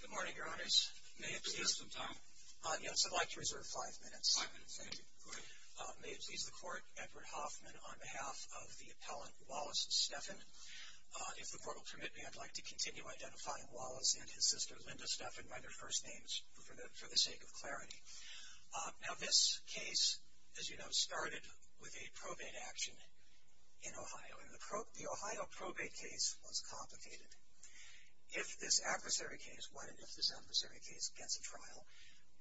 Good morning, Your Honors. May it please the Court, Edward Hoffman, on behalf of the appellant Wallace Steffen. If the Court will permit me, I'd like to continue identifying Wallace and his sister Linda Steffen by their first names for the sake of clarity. Now this case, as you know, started with a probate action in Ohio, and the Ohio probate case was complicated. If this adversary case, what if this adversary case gets a trial,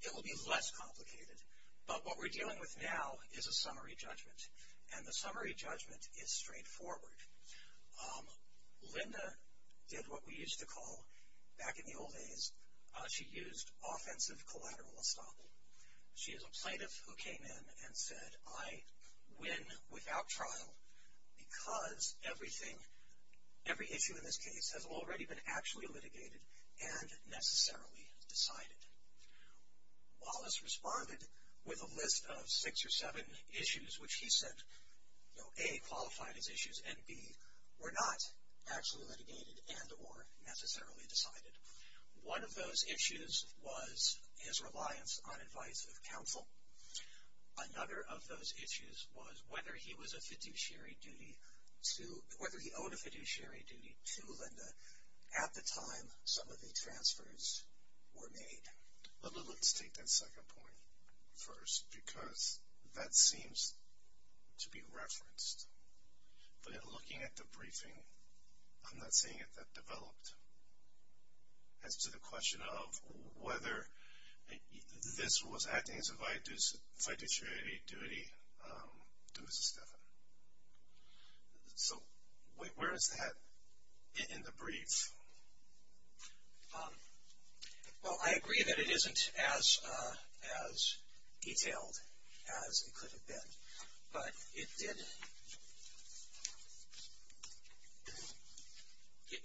it will be less complicated. But what we're dealing with now is a summary judgment, and the summary judgment is straightforward. Linda did what we used to call, back in the old days, she used offensive collateral estoppel. She is a plaintiff who came in and said, I win without trial because everything, every issue in this case has already been actually litigated and necessarily decided. Wallace responded with a list of six or seven issues which he said, A, qualified as issues, and B, were not actually litigated and or necessarily decided. One of those issues was his reliance on advice of counsel. Another of those issues was whether he was a fiduciary duty to, whether he owed a fiduciary duty to Linda at the time some of the transfers were made. Linda, let's take that second point first because that seems to be referenced. But in looking at the briefing, I'm not seeing it that developed. As to the question of whether this was acting as a fiduciary duty to Mrs. Stephan. Well, I agree that it isn't as detailed as it could have been. But it did,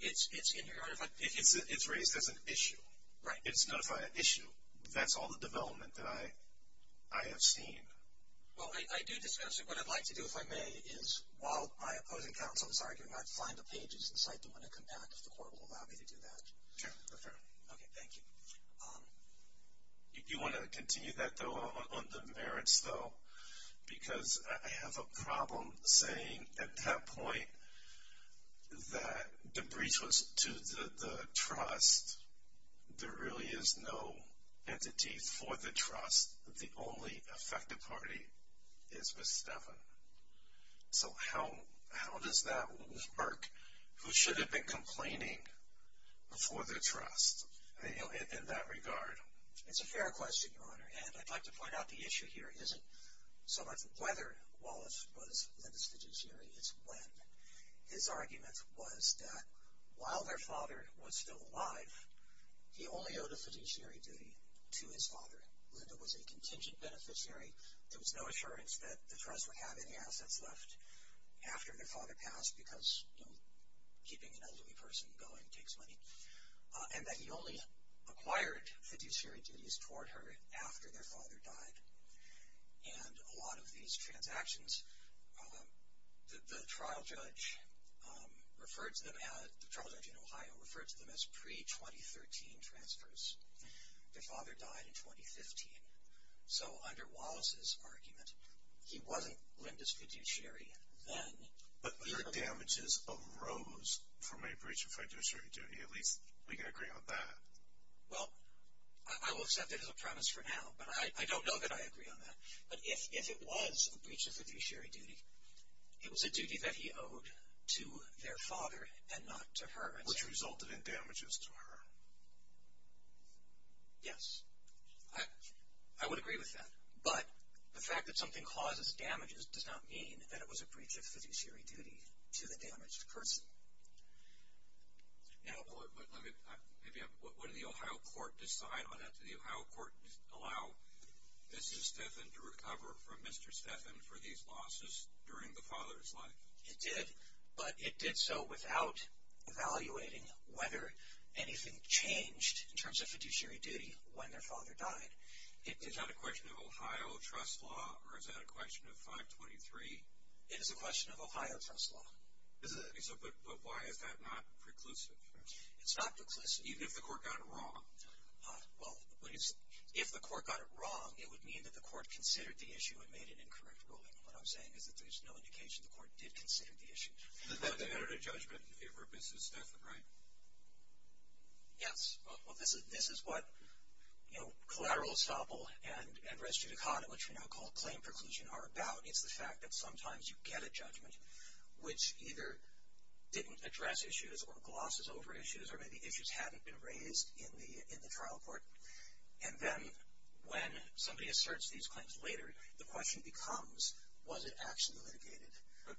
it's raised as an issue. It's notified an issue. That's all the development that I have seen. Well, I do discuss it. What I'd like to do, if I may, is while my opposing counsel is arguing, I'd find the pages and cite them when they come back if the court will allow me to do that. Okay, thank you. You want to continue that, though, on the merits, though? Because I have a problem saying at that point that the breach was to the trust. There really is no entity for the trust. The only affected party is Mrs. Stephan. So how does that work? Who should have been complaining for the trust in that regard? It's a fair question, Your Honor. And I'd like to point out the issue here isn't so much whether Wallace was Linda's fiduciary, it's when. His argument was that while their father was still alive, he only owed a fiduciary duty to his father. Linda was a contingent beneficiary. There was no assurance that the trust would have any assets left after their father passed because, you know, keeping an elderly person going takes money. And that he only acquired fiduciary duties toward her after their father died. And a lot of these transactions, the trial judge in Ohio referred to them as pre-2013 transfers. Their father died in 2015. So under Wallace's argument, he wasn't Linda's fiduciary then. But their damages arose from a breach of fiduciary duty. At least we can agree on that. Well, I will accept it as a premise for now. But I don't know that I agree on that. But if it was a breach of fiduciary duty, it was a duty that he owed to their father and not to her. Which resulted in damages to her. Yes. I would agree with that. But the fact that something causes damages does not mean that it was a breach of fiduciary duty to the damaged person. Now, let me, maybe, wouldn't the Ohio court decide on that? Did the Ohio court allow Mrs. Stephan to recover from Mr. Stephan for these losses during the father's life? It did. But it did so without evaluating whether anything changed in terms of fiduciary duty when their father died. Is that a question of Ohio trust law or is that a question of 523? It is a question of Ohio trust law. Is it? But why is that not preclusive? It's not preclusive. Even if the court got it wrong? Well, if the court got it wrong, it would mean that the court considered the issue and made an incorrect ruling. What I'm saying is that there's no indication the court did consider the issue. Was that a judgment in favor of Mrs. Stephan, right? Yes. Well, this is what collateral estoppel and res judicata, which we now call claim preclusion, are about. It's the fact that sometimes you get a judgment which either didn't address issues or glosses over issues or maybe issues hadn't been raised in the trial court. And then when somebody asserts these claims later, the question becomes, was it actually litigated?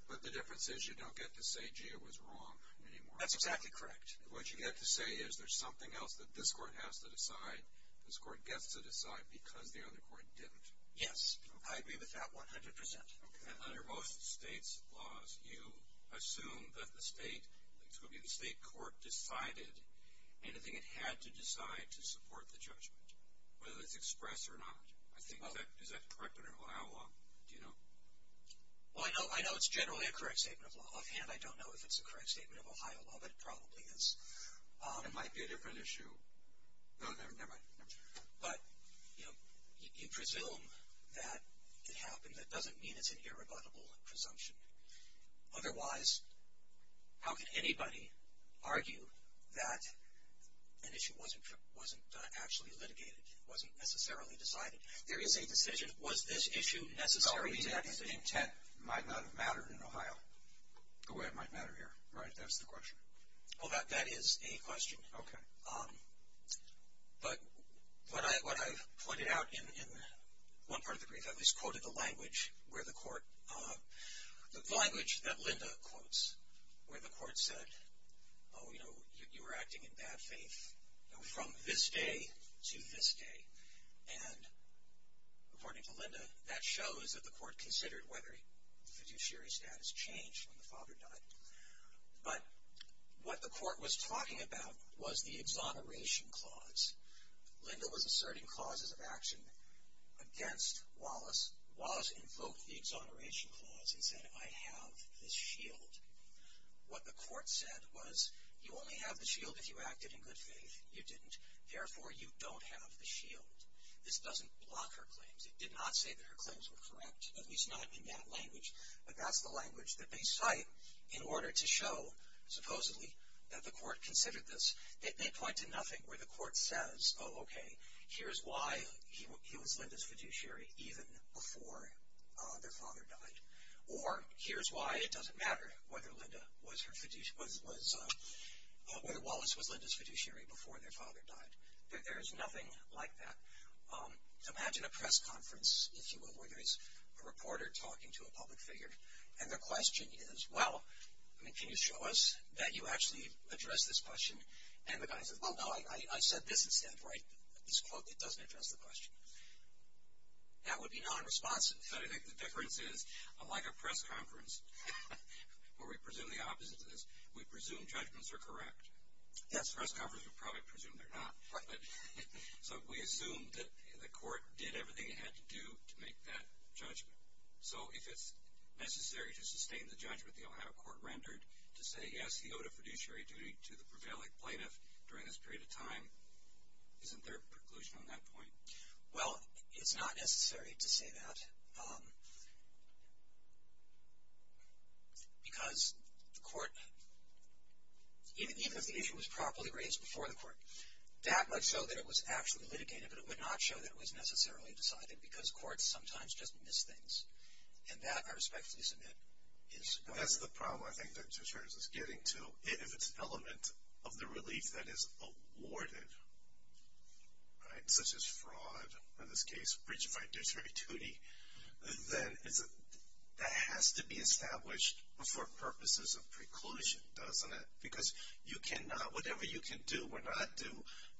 But the difference is you don't get to say, gee, it was wrong anymore. That's exactly correct. What you get to say is there's something else that this court has to decide, this court gets to decide, because the other court didn't. Yes, I agree with that 100%. And under most states' laws, you assume that the state court decided anything it had to decide to support the judgment, whether it's expressed or not. Is that correct under Ohio law? Do you know? Well, I know it's generally a correct statement of law. Offhand, I don't know if it's a correct statement of Ohio law, but it probably is. It might be a different issue. No, never mind. But, you know, you presume that it happened. That doesn't mean it's an irrebuttable presumption. Otherwise, how can anybody argue that an issue wasn't actually litigated, wasn't necessarily decided? There is a decision. Was this issue necessary to that decision? The same intent might not have mattered in Ohio the way it might matter here, right? That's the question. Well, that is a question. Okay. But what I've pointed out in one part of the brief, I've at least quoted the language where the court, the language that Linda quotes where the court said, oh, you know, you were acting in bad faith from this day to this day. And, according to Linda, that shows that the court considered whether the fiduciary status changed when the father died. But what the court was talking about was the exoneration clause. Linda was asserting clauses of action against Wallace. Wallace invoked the exoneration clause and said, I have this shield. What the court said was, you only have the shield if you acted in good faith. You didn't. Therefore, you don't have the shield. This doesn't block her claims. It did not say that her claims were correct, at least not in that language. But that's the language that they cite in order to show, supposedly, that the court considered this. They point to nothing where the court says, oh, okay, here's why he was Linda's fiduciary even before their father died. Or, here's why it doesn't matter whether Wallace was Linda's fiduciary before their father died. There's nothing like that. Imagine a press conference, if you will, where there's a reporter talking to a public figure. And their question is, well, can you show us that you actually addressed this question? And the guy says, well, no, I said this instead, right, this quote that doesn't address the question. That would be nonresponsive. So I think the difference is, unlike a press conference where we presume the opposite of this, we presume judgments are correct. A press conference would probably presume they're not. So we assume that the court did everything it had to do to make that judgment. So if it's necessary to sustain the judgment the Ohio court rendered to say, yes, he owed a fiduciary duty to the prevailing plaintiff during this period of time, isn't there preclusion on that point? Well, it's not necessary to say that because the court, even if the issue was properly raised before the court, that might show that it was actually litigated, but it would not show that it was necessarily decided because courts sometimes just miss things. And that, I respectfully submit, is why. That's the problem I think that insurance is getting to. If it's an element of the relief that is awarded, right, such as fraud, in this case, breach of fiduciary duty, then that has to be established for purposes of preclusion, doesn't it? Because you cannot, whatever you can do or not do,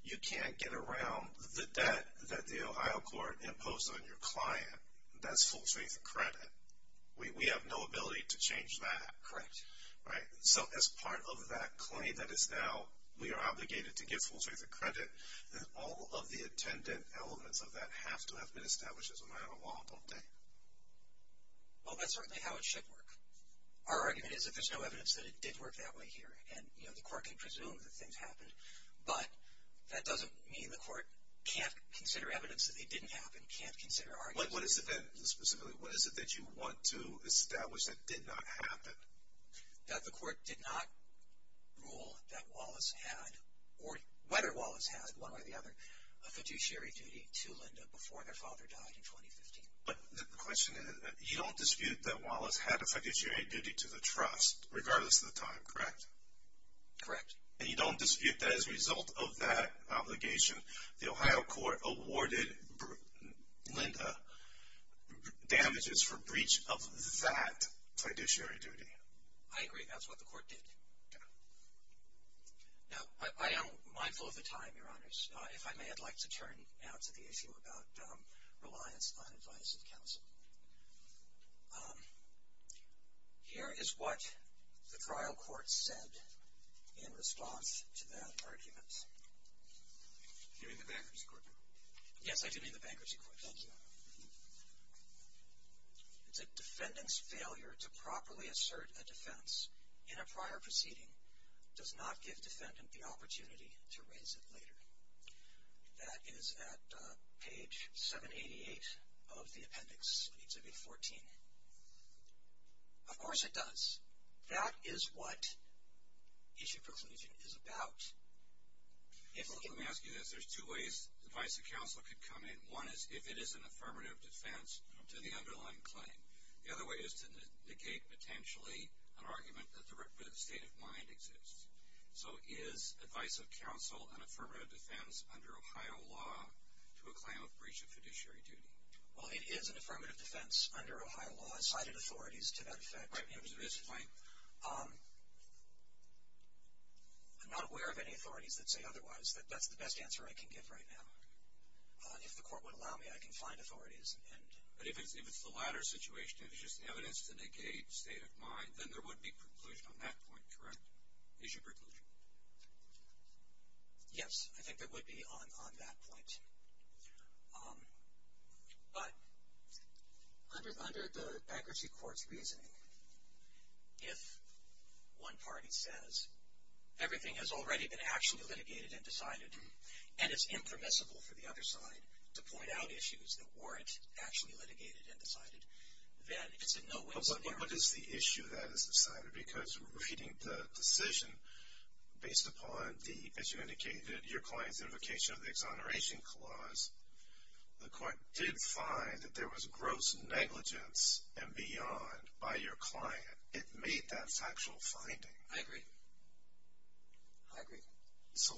you can't get around the debt that the Ohio court imposed on your client. That's full faith credit. We have no ability to change that. Correct. Right? So as part of that claim that is now, we are obligated to give full faith credit, then all of the attendant elements of that have to have been established as a matter of law, don't they? Well, that's certainly how it should work. Our argument is that there's no evidence that it did work that way here. And, you know, the court can presume that things happened, but that doesn't mean the court can't consider evidence that they didn't happen, can't consider arguments. What is the evidence specifically? What is it that you want to establish that did not happen? That the court did not rule that Wallace had, or whether Wallace had, one way or the other, a fiduciary duty to Linda before their father died in 2015. But the question is, you don't dispute that Wallace had a fiduciary duty to the trust, regardless of the time, correct? Correct. And you don't dispute that as a result of that obligation, the Ohio court awarded Linda damages for breach of that fiduciary duty. I agree. That's what the court did. Now, I am mindful of the time, Your Honors. If I may, I'd like to turn now to the issue about reliance on advice of counsel. Here is what the trial court said in response to that argument. You mean the bankruptcy court? Yes, I do mean the bankruptcy court. Thank you. It said, defendant's failure to properly assert a defense in a prior proceeding does not give defendant the opportunity to raise it later. That is at page 788 of the appendix in Exhibit 14. Of course it does. That is what issue preclusion is about. Let me ask you this. There's two ways advice of counsel could come in. One is if it is an affirmative defense to the underlying claim. The other way is to negate, potentially, an argument that the state of mind exists. So is advice of counsel an affirmative defense under Ohio law to a claim of breach of fiduciary duty? Well, it is an affirmative defense under Ohio law. It cited authorities to that effect. Right. I'm not aware of any authorities that say otherwise. That's the best answer I can give right now. If the court would allow me, I can find authorities. But if it's the latter situation, if it's just evidence to negate state of mind, then there would be preclusion on that point, correct? Issue preclusion. Yes, I think there would be on that point. But under the accuracy court's reasoning, if one party says everything has already been actually litigated and decided and it's impermissible for the other side to point out issues that weren't actually litigated and decided, then it's a no-win scenario. What is the issue that is decided? Because reading the decision based upon the, as you indicated, your client's invocation of the exoneration clause, the court did find that there was gross negligence and beyond by your client. It made that factual finding. I agree. I agree. So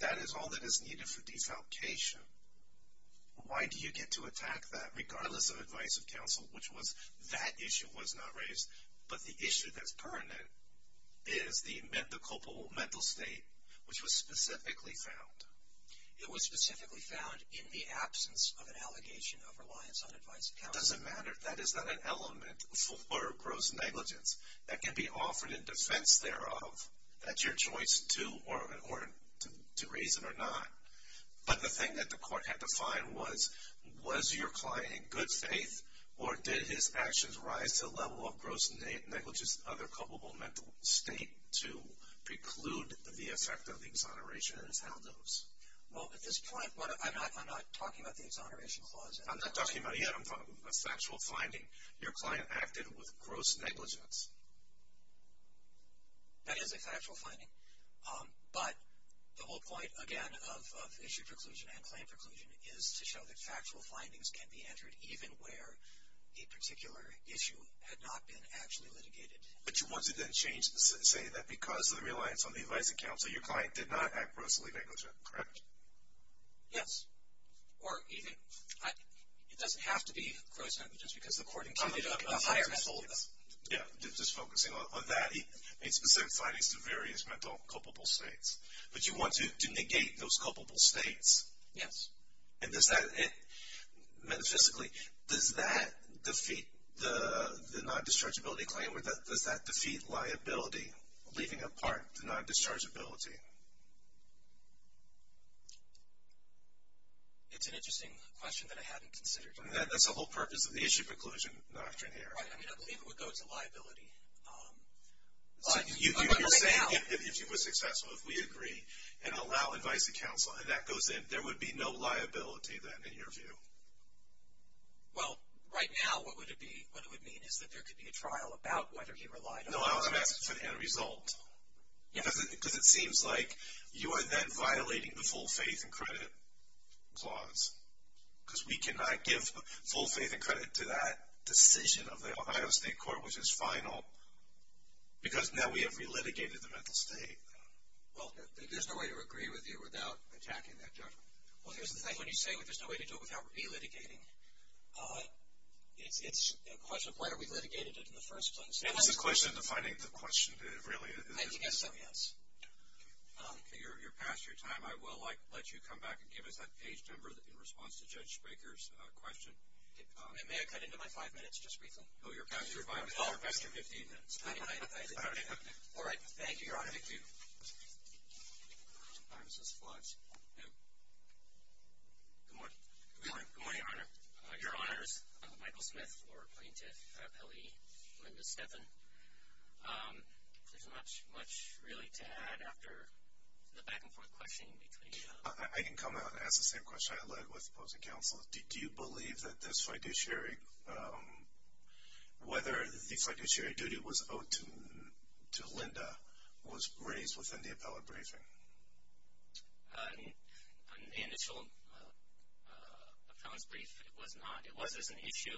that is all that is needed for desalcation. Why do you get to attack that regardless of advice of counsel, which was that issue was not raised, but the issue that's pertinent is the mental state, which was specifically found. It was specifically found in the absence of an allegation of reliance on advice of counsel. It doesn't matter. That is not an element for gross negligence. That can be offered in defense thereof. That's your choice to raise it or not. But the thing that the court had to find was, was your client in good faith or did his actions rise to the level of gross negligence and other culpable mental state to preclude the effect of the exoneration and its outlows? Well, at this point, I'm not talking about the exoneration clause. I'm not talking about it yet. I'm talking about a factual finding. Your client acted with gross negligence. That is a factual finding. But the whole point, again, of issue preclusion and claim preclusion is to show that factual findings can be entered even where a particular issue had not been actually litigated. But you wanted to say that because of the reliance on the advice of counsel, your client did not act grossly negligent, correct? Yes. It doesn't have to be gross negligence because the court included a higher level. Just focusing on that, he made specific findings to various mental culpable states. But you want to negate those culpable states. Yes. And does that, metaphysically, does that defeat the non-dischargeability claim or does that defeat liability, leaving apart the non-dischargeability? It's an interesting question that I hadn't considered. That's the whole purpose of the issue preclusion doctrine here. Right. I mean, I believe it would go to liability. So you're saying if he was successful, if we agree and allow advice of counsel and that goes in, there would be no liability then in your view? Well, right now what it would mean is that there could be a trial about whether he relied on the advice of counsel. No, I was going to ask for the end result. Because it seems like you are then violating the full faith and credit clause because we cannot give full faith and credit to that decision of the Ohio State Court, which is final, because now we have re-litigated the mental state. Well, there's no way to agree with you without attacking that judgment. Well, here's the thing. When you say there's no way to do it without re-litigating, it's a question of why are we litigating it in the first place? It's a question of defining the question, really. I think that's something else. You're past your time. I will let you come back and give us that page number in response to Judge Baker's question. May I cut into my five minutes just briefly? No, you're past your five minutes. You're past your 15 minutes. All right. Thank you, Your Honor. Thank you. Good morning. Good morning, Your Honor. Your Honors, Michael Smith for Plaintiff Appellee Linda Steffen. There's not much, really, to add after the back-and-forth questioning between you. I can come out and ask the same question I had with opposing counsel. Do you believe that this fiduciary, whether the fiduciary duty was owed to Linda, was raised within the appellate briefing? On the initial appellant's brief, it was not. It was as an issue.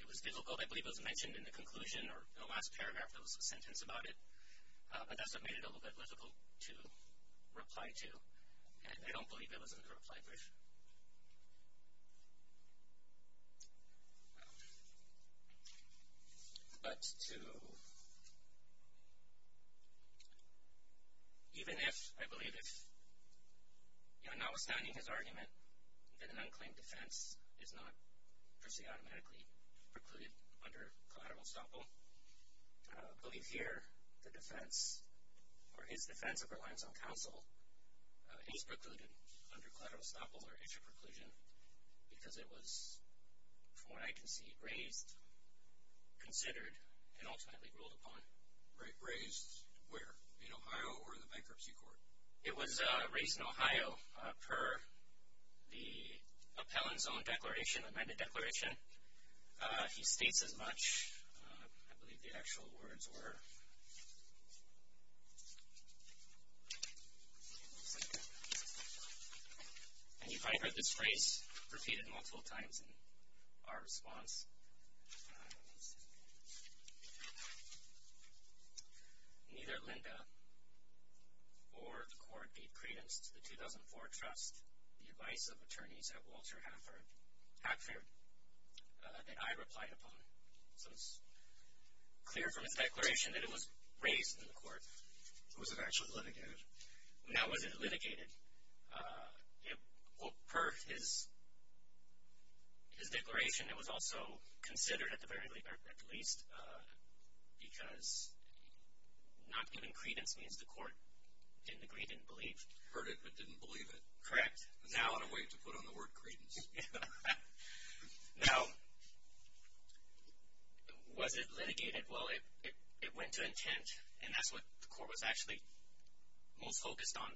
It was difficult. I believe it was mentioned in the conclusion or in the last paragraph, there was a sentence about it. But that's what made it a little bit difficult to reply to. And I don't believe it was in the reply brief. But to even if, I believe if, you know, notwithstanding his argument that an unclaimed defense is not per se automatically precluded under collateral estoppel, I believe here the defense or his defense of reliance on counsel is precluded under collateral estoppel or issue preclusion because it was, from what I can see, raised, considered, and ultimately ruled upon. Raised where? In Ohio or in the bankruptcy court? It was raised in Ohio per the appellant's own declaration, amended declaration. He states as much. I believe the actual words were. And you've probably heard this phrase repeated multiple times in our response. Neither Linda or the court gave credence to the 2004 trust. The advice of attorneys at Walter Hackford that I replied upon. So it's clear from his declaration that it was raised in the court. Was it actually litigated? No, it wasn't litigated. Well, per his declaration, it was also considered at the very least because not giving credence means the court didn't agree, didn't believe. Heard it, but didn't believe it. Correct. Now, in a way, to put on the word credence. Now, was it litigated? Well, it went to intent, and that's what the court was actually most focused on,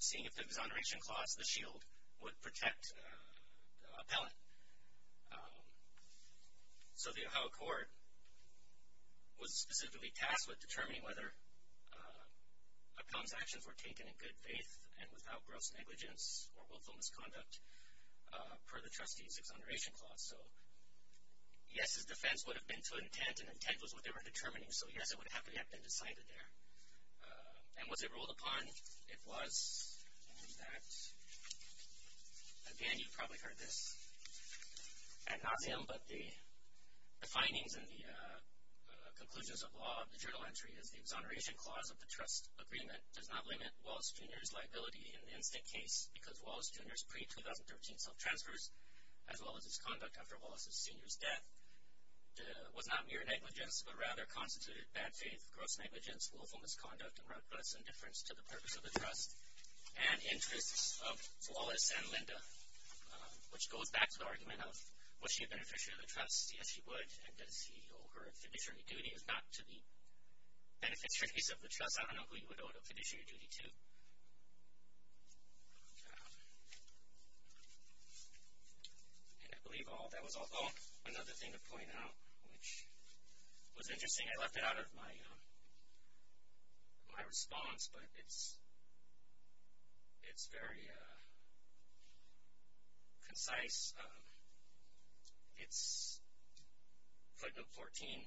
seeing if the exoneration clause, the shield, would protect the appellant. So the Ohio court was specifically tasked with determining whether appellant's actions were taken in good faith and without gross negligence or willful misconduct per the trustee's exoneration clause. So yes, his defense would have been to intent, and intent was what they were determining. So yes, it would have to have been decided there. And was it ruled upon? It was. And that, again, you probably heard this ad nauseum, but the findings and the conclusions of law of the journal entry is the exoneration clause of the trust agreement does not limit Wallace Jr.'s liability in the instant case because Wallace Jr.'s pre-2013 self-transfers, as well as his conduct after Wallace's senior's death, was not mere negligence, but rather constituted bad faith, gross negligence, willful misconduct, and reckless indifference to the purpose of the trust and interests of Wallace and Linda, which goes back to the argument of was she a beneficiary of the trust? Yes, she would. And does he owe her fiduciary duty? If not to the beneficiaries of the trust, I don't know who he would owe the fiduciary duty to. And I believe that was also another thing to point out, which was interesting. I left it out of my response, but it's very concise. It's footnote 14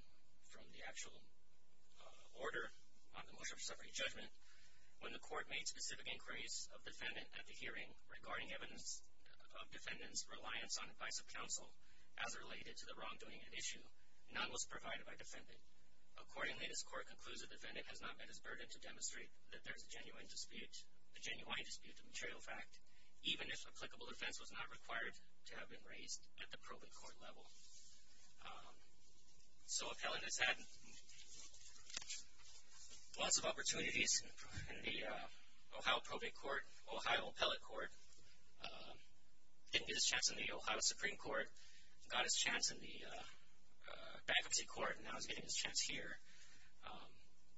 from the actual order on the motion for separate judgment. When the court made specific inquiries of defendant at the hearing regarding evidence of defendant's reliance on advice of counsel as related to the wrongdoing at issue, none was provided by defendant. Accordingly, this court concludes the defendant has not met his burden to demonstrate that there is a genuine dispute, a genuine dispute of material fact, even if applicable defense was not required to have been raised at the probate court level. So appellant has had lots of opportunities in the Ohio probate court, Ohio appellate court, didn't get his chance in the Ohio Supreme Court, got his chance in the bankruptcy court, and now he's getting his chance here.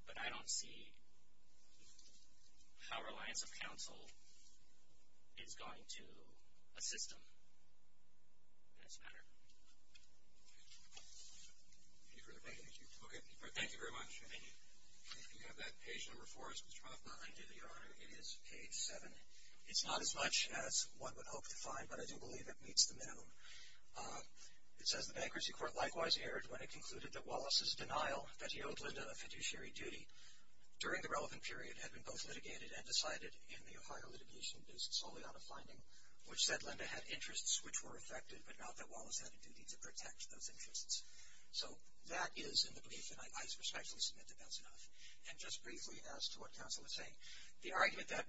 But I don't see how reliance of counsel is going to assist him in this matter. Thank you. Okay. Thank you very much. Thank you. If you have that page number 4, it's page 7. It's not as much as one would hope to find, but I do believe it meets the minimum. It says the bankruptcy court likewise erred when it concluded that Wallace's denial that he owed Linda a fiduciary duty during the relevant period had been both litigated and decided in the Ohio litigation, based solely on a finding which said Linda had interests which were affected but not that Wallace had a duty to protect those interests. So that is in the brief, and I respectfully submit that that's enough. And just briefly as to what counsel is saying, the argument that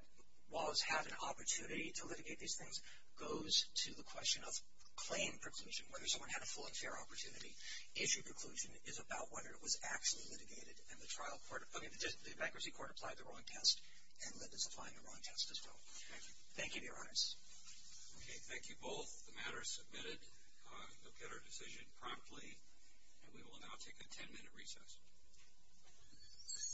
Wallace had an opportunity to litigate these things goes to the question of claim preclusion, whether someone had a full and fair opportunity. Issue preclusion is about whether it was actually litigated and the bankruptcy court applied the wrong test and Linda's applying the wrong test as well. Thank you. Thank you, Your Honors. Okay. Thank you both. The matter is submitted. You'll get our decision promptly, and we will now take a 10-minute recess.